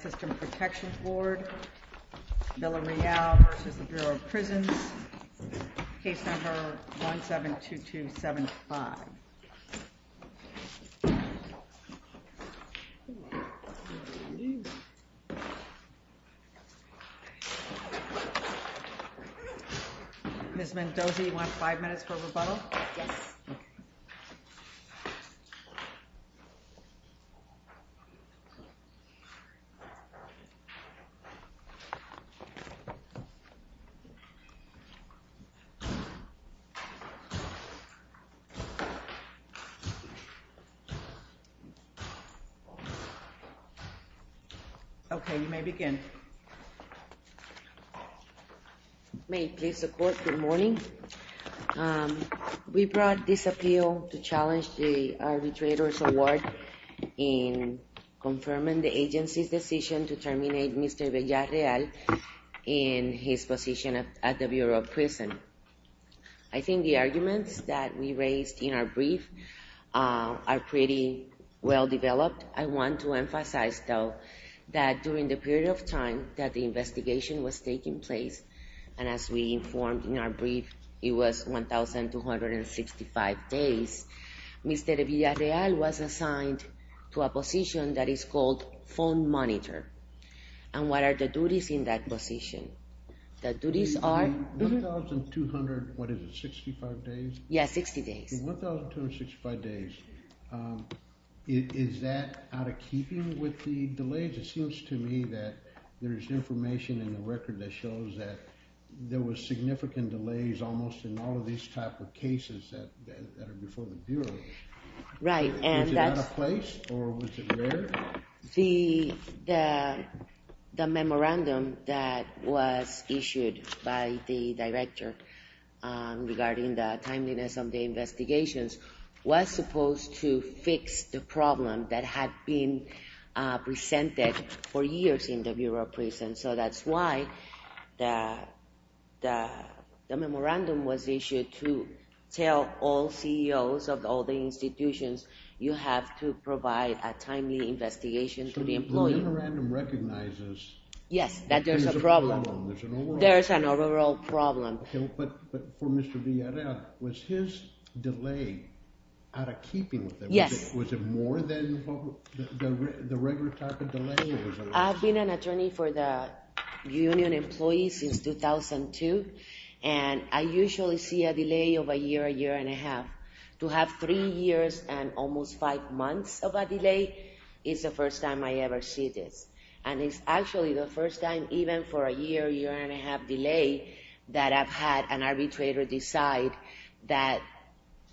System Protection Board, Villareal v. Bureau of Prisons, case number 172275. Ms. Mendoza, you want five minutes for rebuttal? Okay, you may begin. May it please the court, good morning. We brought this appeal to challenge the arbitrators award in confirming the agency's decision to terminate Mr. Villareal in his position at the Bureau of Prison. I think the arguments that we raised in our brief are pretty well developed. I want to emphasize, though, that during the period of time that the investigation was taking place, and as we informed in our brief, it was 1,265 days, Mr. Villareal was assigned to a position that is called phone monitor. And what are the duties in that position? The duties are... In 1,200, what is it, 65 days? Yeah, 60 days. In 1,265 days, is that out of keeping with the delays? It seems to me that there's information in the record that shows that there was significant delays almost in all of these type of cases that are before the Bureau. Was it out of place or was it rare? The memorandum that was issued by the director regarding the timeliness of the investigations was supposed to fix the problem that had been presented for years in the Bureau of Prison. So that's why the memorandum was issued to tell all CEOs of all the institutions, you have to provide a timely investigation to the employee. The memorandum recognizes... Yes, that there's a problem. There's an overall problem. There's an overall problem. But for Mr. Villareal, was his delay out of keeping with them? Yes. Was it more than the regular type of delay? I've been an attorney for the union employees since 2002, and I usually see a delay of a year, a year and a half. To have three years and almost five months of a delay is the first time I ever see this. And it's actually the first time even for a year, year and a half delay that I've had an arbitrator decide that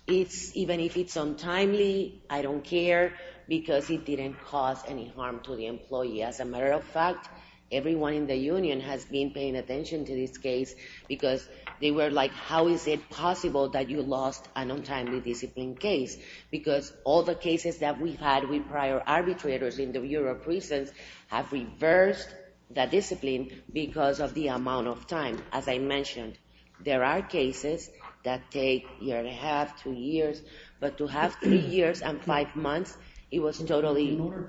even if it's untimely, I don't care because it didn't cause any harm to the employee. As a matter of fact, everyone in the union has been paying attention to this case because they were like, how is it possible that you lost an untimely discipline case? Because all the cases that we've had with prior arbitrators in the European prisons have reversed that discipline because of the amount of time, as I mentioned. There are cases that take a year and a half, two years, but to have three years and five months, it was totally... In order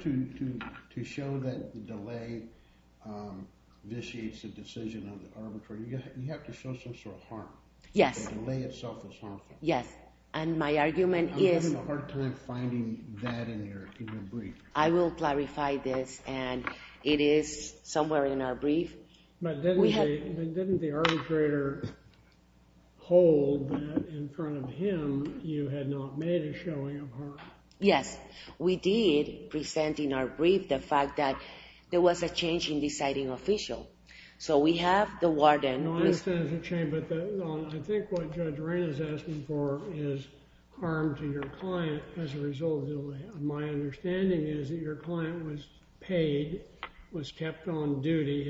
to show that the delay vitiates the decision of the arbitrator, you have to show some sort of harm. Yes. The delay itself is harmful. Yes. And my argument is... I'm having a hard time finding that in your brief. I will clarify this and it is somewhere in our brief. But didn't the arbitrator hold that in front of him, you had not made a showing of harm? Yes, we did present in our brief the fact that there was a change in deciding official. So we have the warden... I understand there's a change, but I think what Judge Reina is asking for is harm to your client as a result of delay. My understanding is that your client was paid, was kept on duty,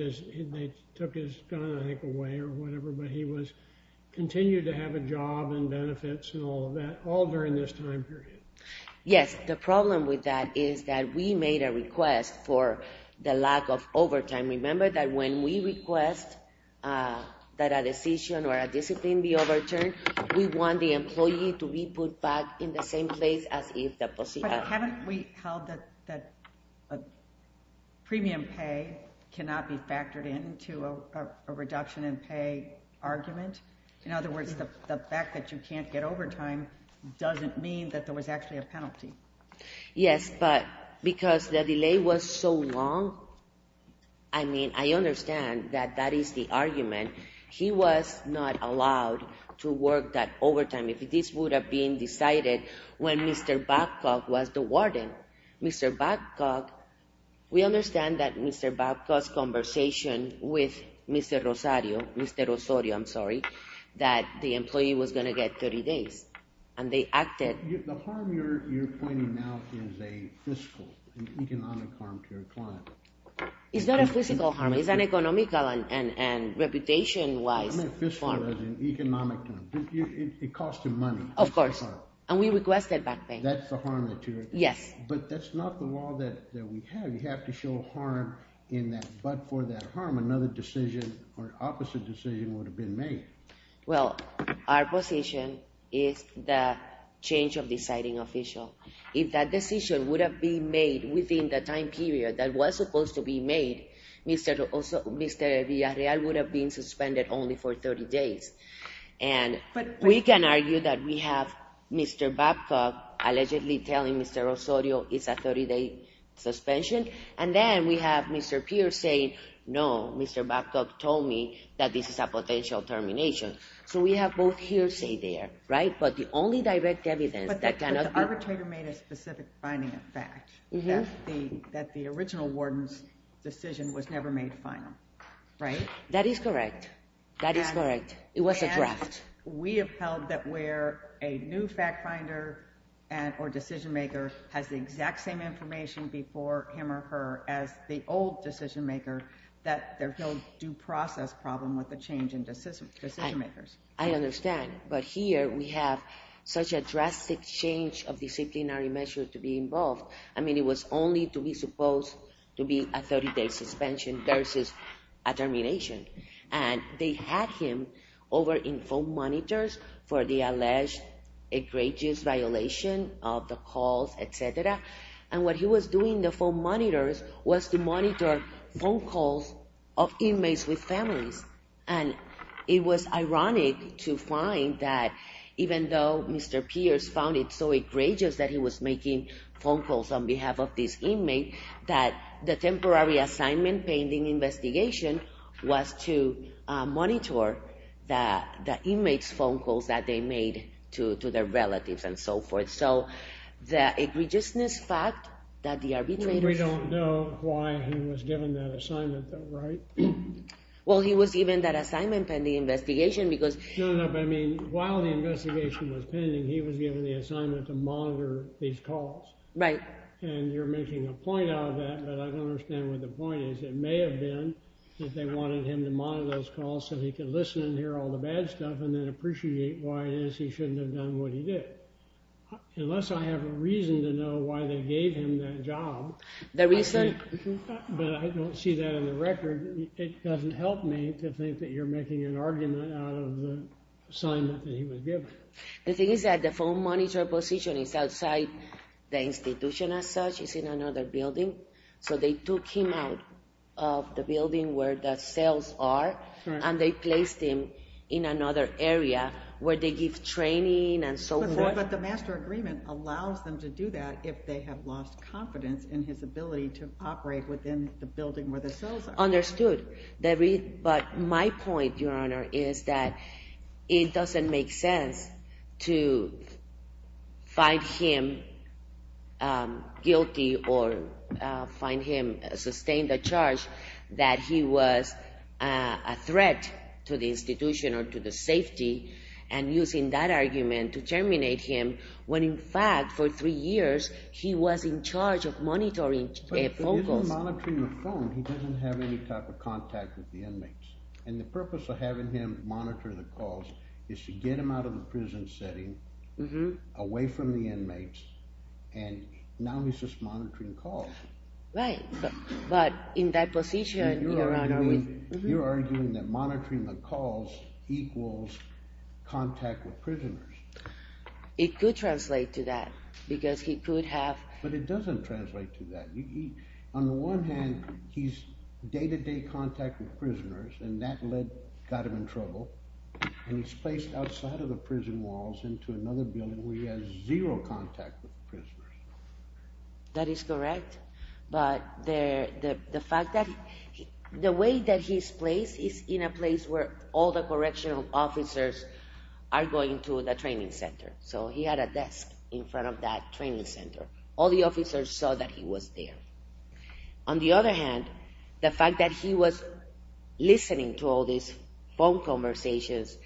they took his gun away or whatever, but he continued to have a job and benefits and all of that, all during this time period. Yes. The problem with that is that we made a request for the lack of overtime. Remember that when we request that a decision or a discipline be overturned, we want the employee to be put back in the same place as if... Haven't we held that premium pay cannot be factored into a reduction in pay argument? In other words, the fact that you can't get overtime doesn't mean that there was actually a penalty. Yes, but because the delay was so long, I mean, I understand that that is the argument. He was not allowed to work that overtime. If this would have been decided when Mr. Babcock was the warden, Mr. Babcock, we understand that Mr. Babcock's conversation with Mr. Rosario, Mr. Rosario, I'm sorry, that the employee was going to get 30 days and they acted... The harm you're pointing out is a fiscal and economic harm to your client. It's not a physical harm. It's an economical and reputation-wise harm. I meant fiscal as in economic harm. It cost him money. Of course, and we requested back pay. That's the harm that you're... Yes. But that's not the law that we have. You have to show harm in that, but for that harm, another decision or opposite decision would have been made. Well, our position is the change of deciding official. If that decision would have been made within the time period that was supposed to be made, Mr. Villarreal would have been suspended only for 30 days. And we can argue that we have Mr. Babcock allegedly telling Mr. Rosario it's a 30-day suspension, and then we have Mr. Pierce saying, no, Mr. Babcock told me that this is a potential termination. So we have both hearsay there, right? But the only direct evidence that cannot be... But the arbitrator made a specific finding of fact, that the original warden's decision was never made final, right? That is correct. That is correct. It was a draft. We have held that where a new fact finder or decision maker has the exact same information before him or her as the old decision maker, that there's no due process problem with the decision makers. I understand. But here we have such a drastic change of disciplinary measure to be involved. I mean, it was only to be supposed to be a 30-day suspension versus a termination. And they had him over in phone monitors for the alleged egregious violation of the calls, et cetera. And what he was doing in the phone monitors was to monitor phone calls of inmates with their families. And it was ironic to find that even though Mr. Pierce found it so egregious that he was making phone calls on behalf of this inmate, that the temporary assignment pending investigation was to monitor the inmates' phone calls that they made to their relatives and so forth. So the egregiousness fact that the arbitrator... We don't know why he was given that assignment though, right? Well, he was given that assignment pending investigation because... No, no. But I mean, while the investigation was pending, he was given the assignment to monitor these calls. Right. And you're making a point out of that, but I don't understand what the point is. It may have been that they wanted him to monitor those calls so he could listen and hear all the bad stuff and then appreciate why it is he shouldn't have done what he did. Unless I have a reason to know why they gave him that job... The reason? But I don't see that in the record. It doesn't help me to think that you're making an argument out of the assignment that he was given. The thing is that the phone monitor position is outside the institution as such. It's in another building. So they took him out of the building where the cells are and they placed him in another area where they give training and so forth. But the master agreement allows them to do that if they have lost confidence in his ability to operate within the building where the cells are. Understood. But my point, Your Honor, is that it doesn't make sense to find him guilty or sustain the charge that he was a threat to the institution or to the safety and using that argument to monitor a phone call. But if he isn't monitoring the phone, he doesn't have any type of contact with the inmates. And the purpose of having him monitor the calls is to get him out of the prison setting, away from the inmates, and now he's just monitoring calls. Right. But in that position, Your Honor, we... You're arguing that monitoring the calls equals contact with prisoners. It could translate to that because he could have... But it doesn't translate to that. On the one hand, he's day-to-day contact with prisoners and that got him in trouble. And he's placed outside of the prison walls into another building where he has zero contact with prisoners. That is correct. But the fact that... The way that he's placed is in a place where all the correctional officers are going to the training center. So he had a desk in front of that training center. All the officers saw that he was there. On the other hand, the fact that he was listening to all these phone conversations,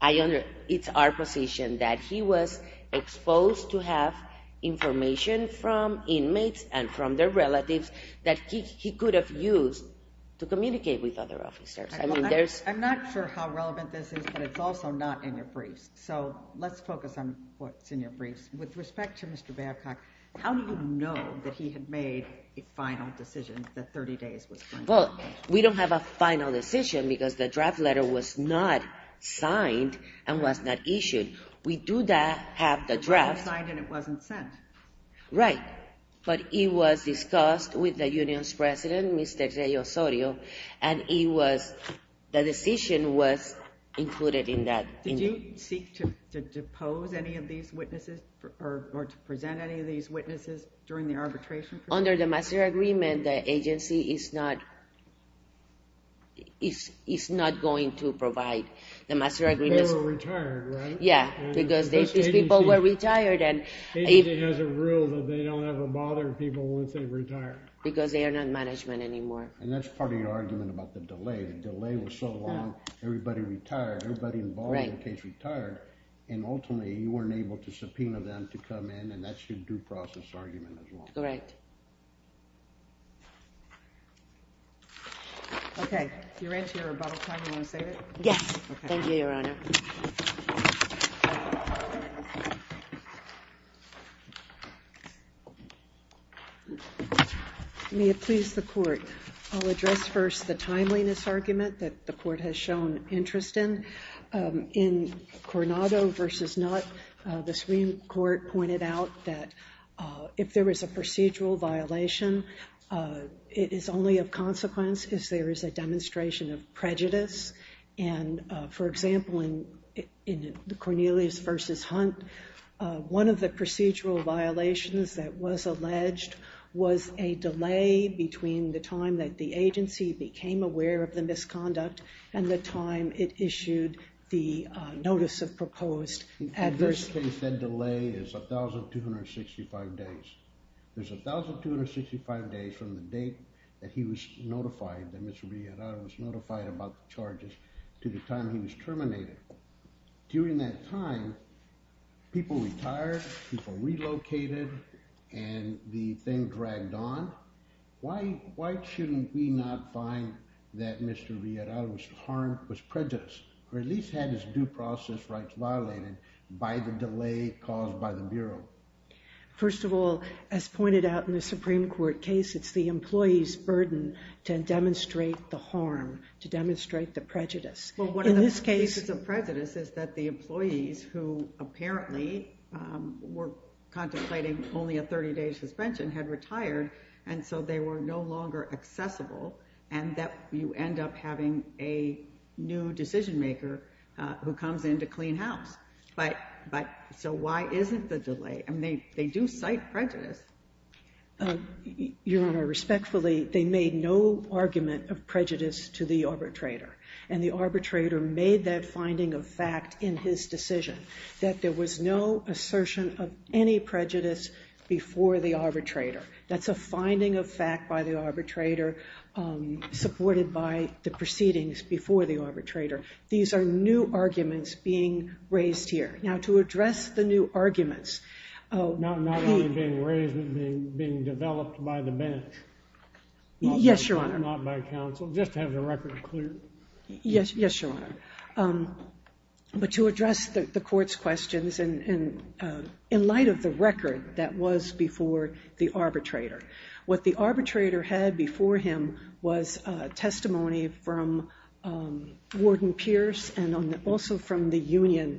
I under... It's our position that he was exposed to have information from inmates and from their relatives that he could have used to communicate with other officers. I mean, there's... I'm not sure how relevant this is, but it's also not in your briefs. So let's focus on what's in your briefs. With respect to Mr. Babcock, how do you know that he had made a final decision, that 30 days was final? Well, we don't have a final decision because the draft letter was not signed and was not issued. We do have the draft... It was signed and it wasn't sent. Right. But it was discussed with the union's president, Mr. Jose Osorio, and it was... The decision was included in that. Did you seek to depose any of these witnesses or to present any of these witnesses during the arbitration process? Under the master agreement, the agency is not going to provide the master agreements. They were retired, right? Yeah, because these people were retired and... Agency has a rule that they don't have to bother people once they've retired. Because they are not management anymore. And that's part of your argument about the delay. The delay was so long. Everybody retired. Everybody involved in case retired. And ultimately, you weren't able to subpoena them to come in. And that's your due process argument as well. Correct. Okay. You're into your bottle time. You want to save it? Yes. Thank you, Your Honor. May it please the court, I'll address first the timeliness argument that the court has interest in. In Coronado versus Nutt, the Supreme Court pointed out that if there is a procedural violation, it is only of consequence if there is a demonstration of prejudice. And for example, in the Cornelius versus Hunt, one of the procedural violations that was alleged was a delay between the time that the agency became aware of the misconduct and the time it issued the notice of proposed adverse... In this case, that delay is 1,265 days. There's 1,265 days from the date that he was notified, that Mr. Riera was notified about the charges to the time he was terminated. During that time, people retired, people relocated, and the thing dragged on. Why shouldn't we not find that Mr. Riera's harm was prejudice, or at least had his due process rights violated by the delay caused by the Bureau? First of all, as pointed out in the Supreme Court case, it's the employee's burden to demonstrate the harm, to demonstrate the prejudice. Well, one of the pieces of prejudice is that the employees who apparently were contemplating only a 30-day suspension had retired, and so they were no longer accessible, and that you end up having a new decision-maker who comes in to clean house. So why isn't the delay? I mean, they do cite prejudice. Your Honor, respectfully, they made no argument of prejudice to the arbitrator, and the arbitrator made that finding a fact in his decision, that there was no assertion of any prejudice before the arbitrator. That's a finding of fact by the arbitrator, supported by the proceedings before the arbitrator. These are new arguments being raised here. Now, to address the new arguments... Not only being raised, but being developed by the bench. Yes, Your Honor. Just to have the record clear. Yes, Your Honor. But to address the court's questions, in light of the record that was before the arbitrator. What the arbitrator had before him was testimony from Warden Pierce, and also from the union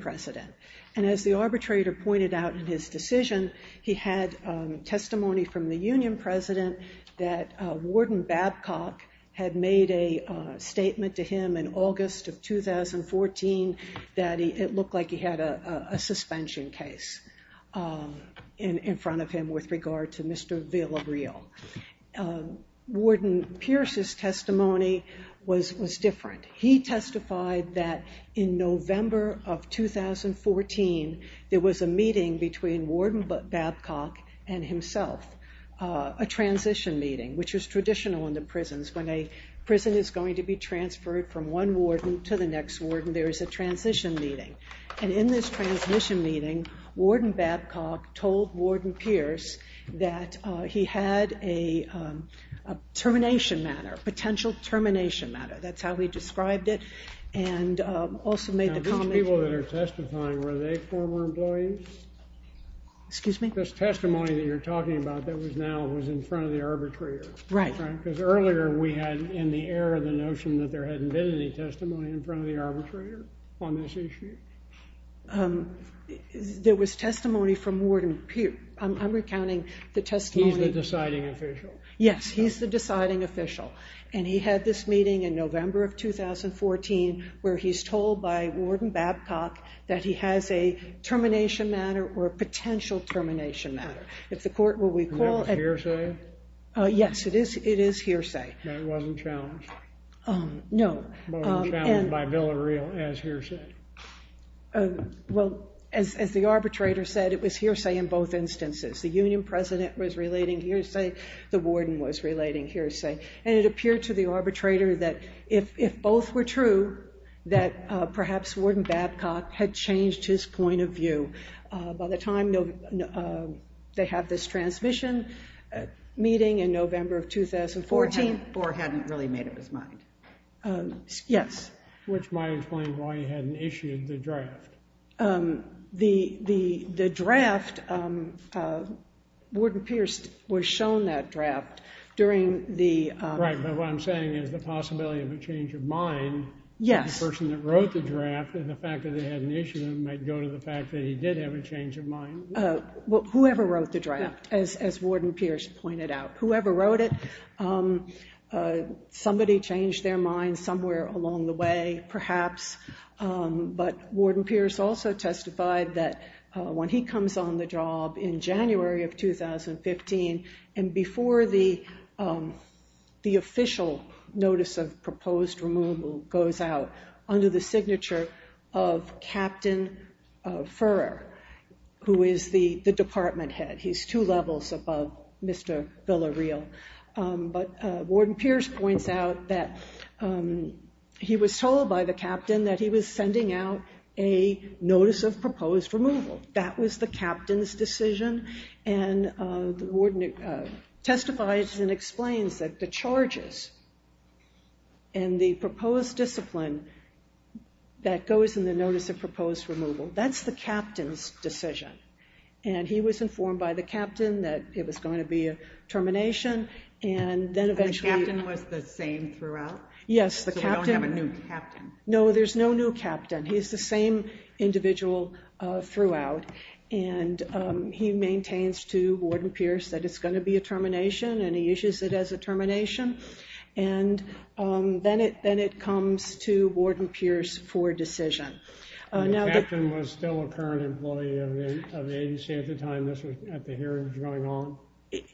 president. And as the arbitrator pointed out in his decision, he had testimony from the union president that Warden Babcock had made a statement to him in August of 2014, that it looked like he had a suspension case in front of him, with regard to Mr. Villareal. Warden Pierce's testimony was different. He testified that in November of 2014, there was a meeting between Warden Babcock and himself. A transition meeting, which is traditional in the prisons. When a prison is going to be transferred from one warden to the next warden, there is a transition meeting. And in this transition meeting, Warden Babcock told Warden Pierce that he had a termination matter. Potential termination matter. That's how he described it. And also made the comment... Now, these people that are testifying, were they former employees? Excuse me? This testimony that you're talking about, that was now, was in front of the arbitrator. Right. Because earlier we had, in the air, the notion that there hadn't been any testimony in front of the arbitrator on this issue. There was testimony from Warden Pierce. I'm recounting the testimony... He's the deciding official. Yes, he's the deciding official. And he had this meeting in November of 2014, where he's told by Warden Babcock that he has a termination matter or a potential termination matter. If the court will recall... Was it hearsay? Yes, it is hearsay. But it wasn't challenged? No. It wasn't challenged by Villareal as hearsay? Well, as the arbitrator said, it was hearsay in both instances. The union president was relating hearsay. The warden was relating hearsay. And it appeared to the arbitrator that if both were true, that perhaps Warden Babcock had changed his point of view by the time they have this transmission meeting in November of 2014. Or hadn't really made up his mind? Yes. Which might explain why he hadn't issued the draft. The draft... Warden Pierce was shown that draft during the... Right, but what I'm saying is the possibility of a change of mind... Yes. ...the person that wrote the draft, and the fact that they hadn't issued it might go to the fact that he did have a change of mind. Whoever wrote the draft, as Warden Pierce pointed out. Whoever wrote it, somebody changed their mind somewhere along the way, perhaps. But Warden Pierce also testified that when he comes on the job in January of 2015, and before the official notice of proposed removal goes out under the signature of Captain Furrer, who is the department head. He's two levels above Mr. Villareal. But Warden Pierce points out that he was told by the captain that he was sending out a notice of proposed removal. That was the captain's decision. And the proposed discipline that goes in the notice of proposed removal, that's the captain's decision. And he was informed by the captain that it was going to be a termination, and then eventually... The captain was the same throughout? Yes, the captain... So we don't have a new captain. No, there's no new captain. He's the same individual throughout. And he maintains to Warden Pierce that it's going to be a termination, and he issues it as a termination. And then it comes to Warden Pierce for decision. And the captain was still a current employee of the ADC at the time this was... At the hearings going on?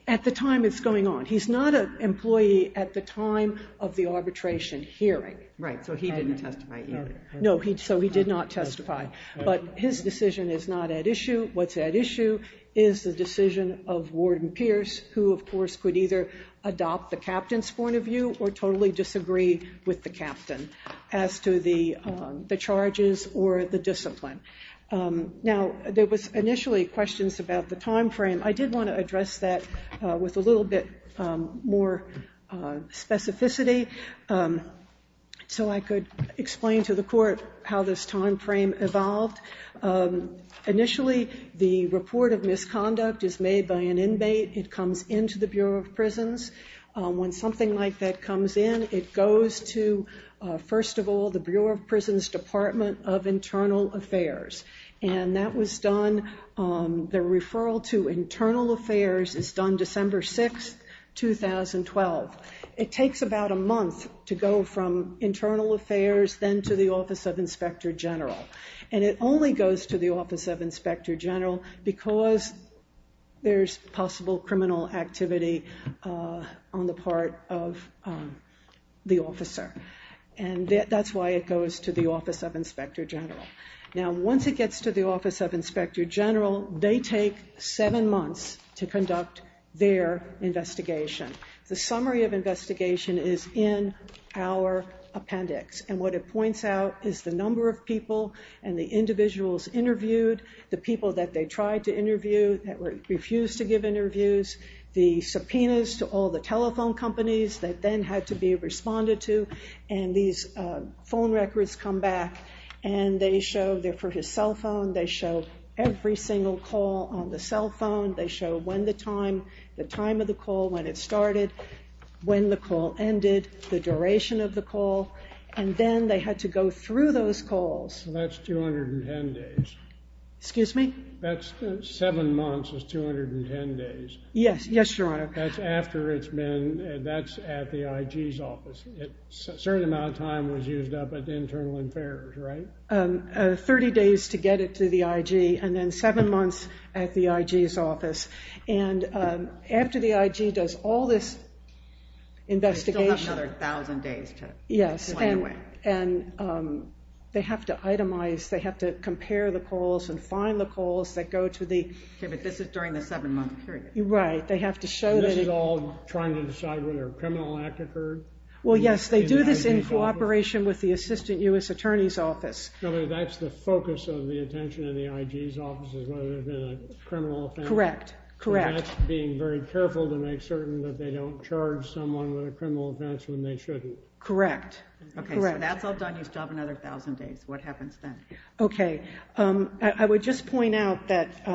At the time it's going on. He's not an employee at the time of the arbitration hearing. Right, so he didn't testify either. No, so he did not testify. But his decision is not at issue. What's at issue is the decision of Warden Pierce, who, of course, could either adopt the captain's point of view or totally disagree with the captain as to the charges or the discipline. Now, there was initially questions about the time frame. I did want to address that with a little bit more specificity so I could explain to the court how this time frame evolved. Initially, the report of misconduct is made by an inmate. It comes into the Bureau of Prisons. When something like that comes in, it goes to, first of all, the Bureau of Prisons Department of Internal Affairs. And that was done... The referral to Internal Affairs is done December 6, 2012. It takes about a month to go from Internal Affairs, then to the Office of Inspector General. And it only goes to the Office of Inspector General because there's possible criminal activity on the part of the officer. And that's why it goes to the Office of Inspector General. Now, once it gets to the Office of Inspector General, they take seven months to conduct their investigation. The summary of investigation is in our appendix. And what it points out is the number of people and the individuals interviewed, the people that they tried to interview, that refused to give interviews, the subpoenas to all the telephone companies that then had to be responded to. And these phone records come back and they show... They're for his cell phone. They show every single call on the cell phone. They show when the time, the time of the call, when it started, when the call ended, the duration of the call. And then they had to go through those calls. That's 210 days. Excuse me? That's seven months is 210 days. Yes. Yes, Your Honor. That's after it's been... That's at the IG's office. A certain amount of time was used up at the internal affairs, right? 30 days to get it to the IG and then seven months at the IG's office. And after the IG does all this investigation... They still have another 1,000 days to go anyway. And they have to itemize. They have to compare the calls and find the calls that go to the... Okay, but this is during the seven-month period. Right. They have to show that... And this is all trying to decide whether a criminal act occurred? Well, yes. They do this in cooperation with the Assistant U.S. Attorney's Office. That's the focus of the attention in the IG's office is whether there's been a criminal offense. Correct. Correct. And that's being very careful to make certain that they don't charge someone with a criminal offense when they shouldn't. Correct. Okay, so that's all done. You still have another 1,000 days. What happens then? Okay. I would just point out that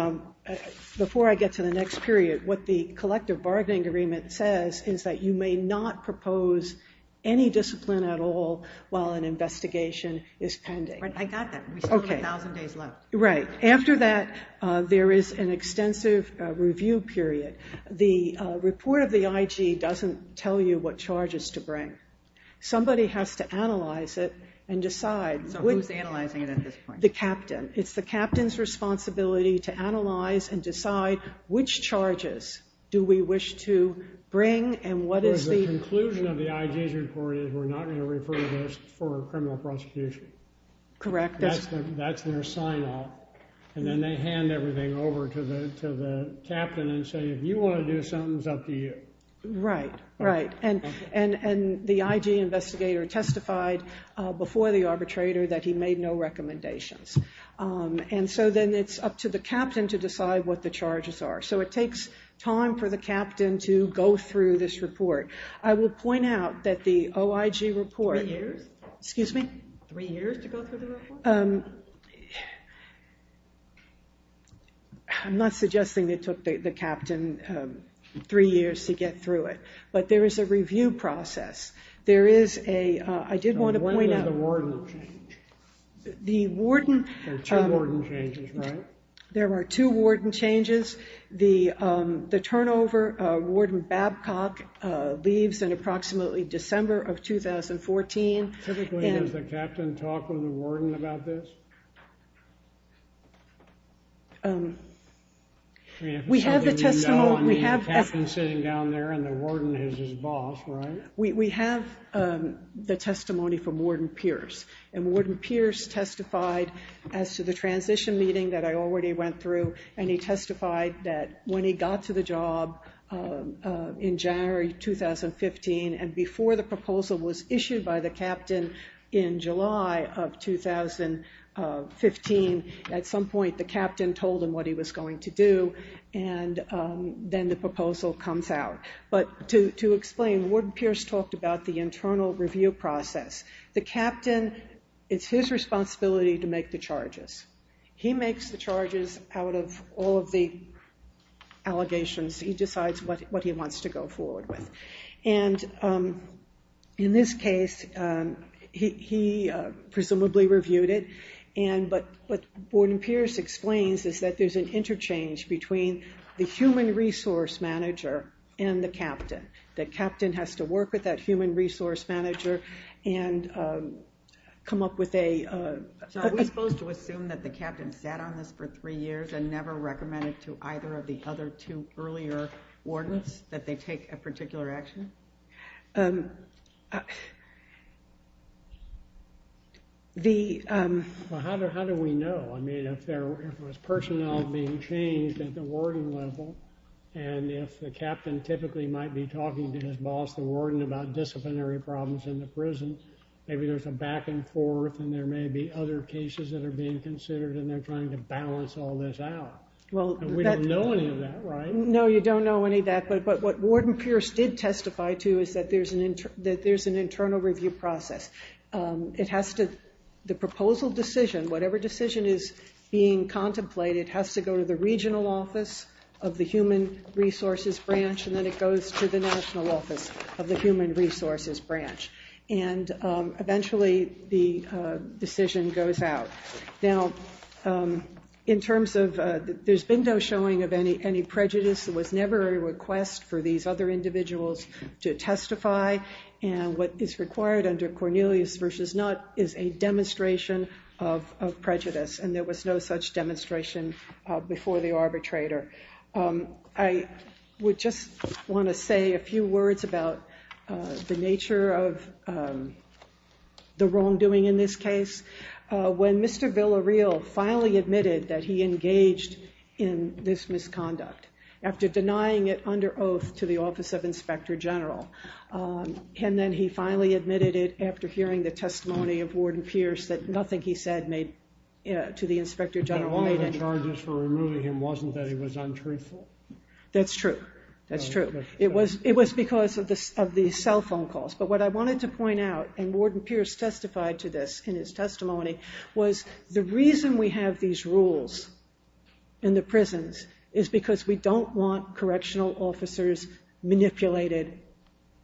before I get to the next period, what the collective bargaining agreement says is that you may not propose any discipline at all while an investigation is pending. I got that. We still have 1,000 days left. Right. After that, there is an extensive review period. The report of the IG doesn't tell you what charges to bring. Somebody has to analyze it and decide. So who's analyzing it at this point? The captain. It's the captain's responsibility to analyze and decide which charges do we wish to bring and what is the... The conclusion of the IG's report is we're not going to refer to this for criminal prosecution. Correct. That's their sign-off. And then they hand everything over to the captain and say, if you want to do something, it's up to you. Right. Right. And the IG investigator testified before the arbitrator that he made no recommendations. And so then it's up to the captain to decide what the charges are. So it takes time for the captain to go through this report. I will point out that the OIG report... Three years? Excuse me? Three years to go through the report? I'm not suggesting it took the captain three years to get through it. But there is a review process. There is a... I did want to point out... When does the warden change? The warden... There are two warden changes, right? There are two warden changes. The turnover, Warden Babcock leaves in approximately December of 2014. Typically, does the captain talk with the warden about this? We have the testimony... The captain's sitting down there and the warden is his boss, right? We have the testimony from Warden Pierce. And Warden Pierce testified as to the transition meeting that I already went through. And he testified that when he got to the job in January 2015, and before the proposal was issued by the captain in July of 2015, at some point, the captain told him what he was going to do. And then the proposal comes out. But to explain, Warden Pierce talked about the internal review process. The captain, it's his responsibility to make the charges. He makes the charges out of all of the allegations. He decides what he wants to go forward with. And in this case, he presumably reviewed it. But what Warden Pierce explains is that there's an interchange between the human resource manager and the captain. The captain has to work with that human resource manager and come up with a... So are we supposed to assume that the captain sat on this for three years and never recommended to either of the other two earlier wardens that they take a particular action? Well, how do we know? I mean, if there was personnel being changed at the warden level, and if the captain typically might be talking to his boss, the warden, about disciplinary problems in the prison, maybe there's a back and forth, and there may be other cases that are being considered, and they're trying to balance all this out. Well, we don't know any of that, right? No, you don't know any of that. But what Warden Pierce did testify to is that there's an internal review process. The proposal decision, whatever decision is being contemplated, has to go to the regional office of the human resources branch, and then it goes to the national office of the human resources branch. And eventually, the decision goes out. Now, there's been no showing of any prejudice. There was never a request for these other individuals to testify. And what is required under Cornelius v. Nutt is a demonstration of prejudice, and there was no such demonstration before the arbitrator. I would just want to say a few words about the nature of the wrongdoing in this case. When Mr. Villareal finally admitted that he engaged in this misconduct, after denying it under oath to the office of inspector general, and then he finally admitted it after hearing the testimony of Warden Pierce that nothing he said to the inspector general made any sense. But all of the charges for removing him wasn't that he was untruthful? That's true. That's true. It was because of the cell phone calls. But what I wanted to point out, and Warden Pierce testified to this in his testimony, was the reason we have these rules in the prisons is because we don't want correctional officers manipulated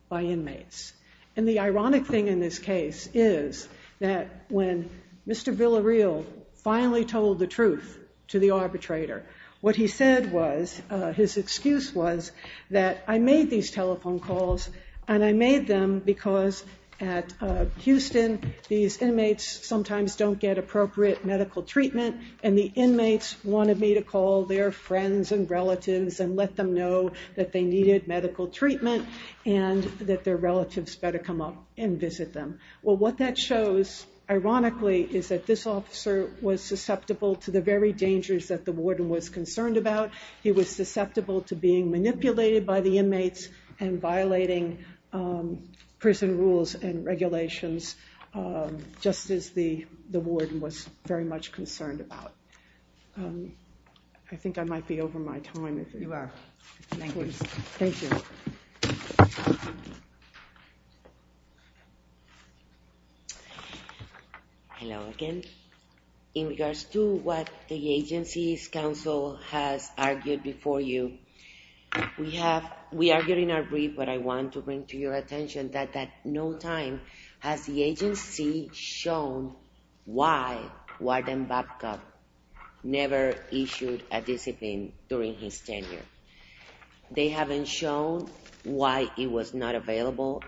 by inmates. And the ironic thing in this case is that when Mr. Villareal finally told the truth to the arbitrator, what he said was, his excuse was, that I made these telephone calls, and I made them because at Houston, these inmates sometimes don't get appropriate medical treatment, and the inmates wanted me to call their friends and relatives and let them know that they needed medical treatment and that their relatives better come up and visit them. Well, what that shows, ironically, is that this officer was susceptible to the very dangers that the warden was concerned about. He was susceptible to being manipulated by the inmates and violating prison rules and regulations, just as the warden was very much concerned about. I think I might be over my time. You are. Thank you. Hello again. In regards to what the agency's counsel has argued before you, we are getting our brief, but I want to bring to your attention that at no time has the agency shown why Warden Babcock never issued a discipline during his tenure. They haven't shown why it was not available.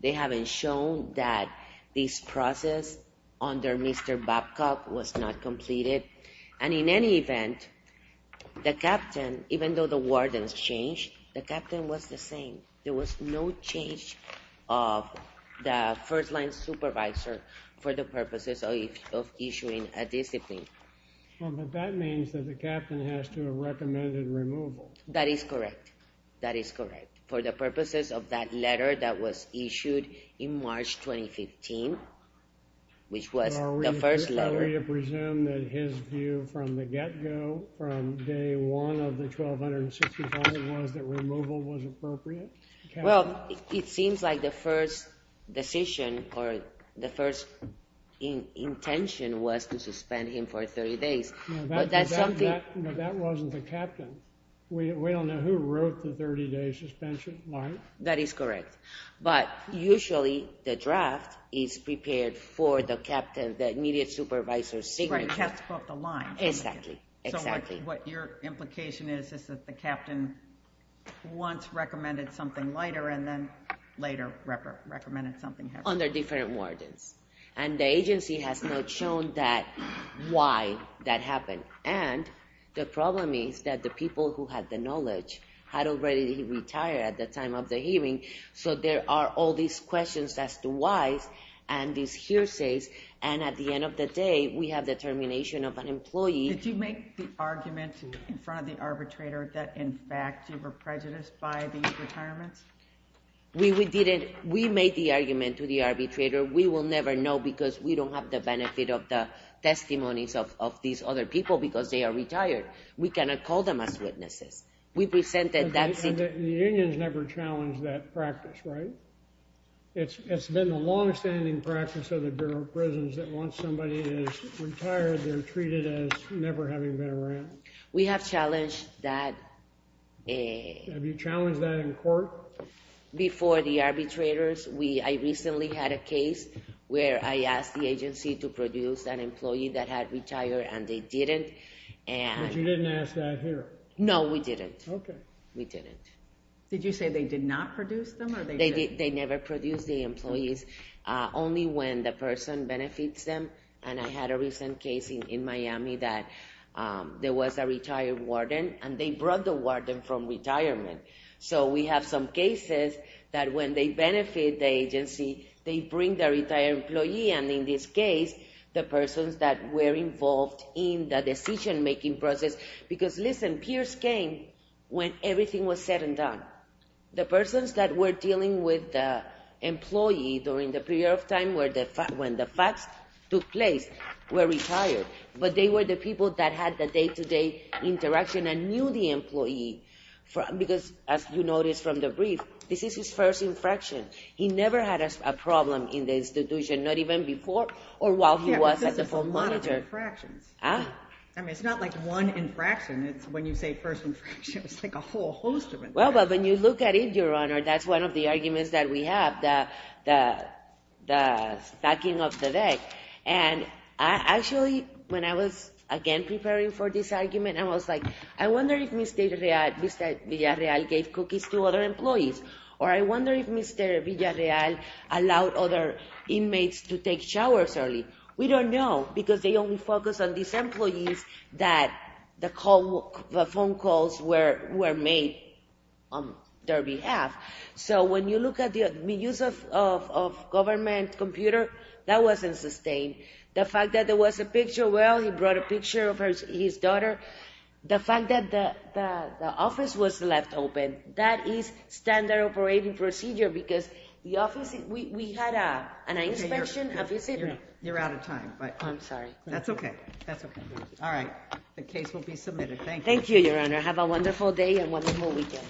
They haven't shown that this process under Mr. Babcock was not completed. And in any event, the captain, even though the warden's changed, the captain was the same. There was no change of the first-line supervisor for the purposes of issuing a discipline. Well, but that means that the captain has to have recommended removal. That is correct. That is correct. For the purposes of that letter that was issued in March 2015, which was the first letter. Do you presume that his view from the get-go, from day one of the 1265, was that removal was appropriate? Well, it seems like the first decision or the first intention was to suspend him for 30 days. But that wasn't the captain. We don't know who wrote the 30-day suspension line. That is correct. But usually the draft is prepared for the captain, the immediate supervisor's signature. Right, he has to go up the line. Exactly, exactly. What your implication is, is that the captain once recommended something later and then later recommended something else? Under different wardens. And the agency has not shown why that happened. And the problem is that the people who had the knowledge had already retired at the time of the hearing. So there are all these questions as to whys and these hearsays. And at the end of the day, we have the termination of an employee. Did you make the argument in front of the arbitrator that, in fact, you were prejudiced by these retirements? We didn't. We made the argument to the arbitrator. We will never know because we don't have the benefit of the testimonies of these other people because they are retired. We cannot call them as witnesses. We presented that. And the unions never challenged that practice, right? It's been a longstanding practice of the Bureau of Prisons that once somebody is retired, they're treated as never having been around. We have challenged that. Have you challenged that in court? Before the arbitrators, I recently had a case where I asked the agency to produce an employee that had retired and they didn't. But you didn't ask that here? No, we didn't. We didn't. Did you say they did not produce them or they did? They never produced the employees. Only when the person benefits them. And I had a recent case in Miami that there was a retired warden and they brought the warden from retirement. So we have some cases that when they benefit the agency, they bring the retired employee. And in this case, the persons that were involved in the decision-making process. Because, listen, Pierce came when everything was said and done. The persons that were dealing with the employee during the period of time when the facts took place were retired. But they were the people that had the day-to-day interaction and knew the employee. Because as you notice from the brief, this is his first infraction. He never had a problem in the institution, not even before or while he was at the phone monitor. Yeah, but this is a lot of infractions. Huh? I mean, it's not like one infraction. It's when you say first infraction, it's like a whole host of infractions. Well, but when you look at it, Your Honor, that's one of the arguments that we have, the stacking of the deck. And actually, when I was, again, preparing for this argument, I was like, I wonder if Mr. Villarreal gave cookies to other employees. Or I wonder if Mr. Villarreal allowed other inmates to take showers early. We don't know because they only focus on these employees that the phone calls were made on their behalf. So when you look at the use of government computer, that wasn't sustained. The fact that there was a picture, well, he brought a picture of his daughter. The fact that the office was left open, that is standard operating procedure because the office, we had an inspection. You're out of time. But I'm sorry. That's OK. That's OK. All right. The case will be submitted. Thank you, Your Honor. Have a wonderful day and wonderful weekend.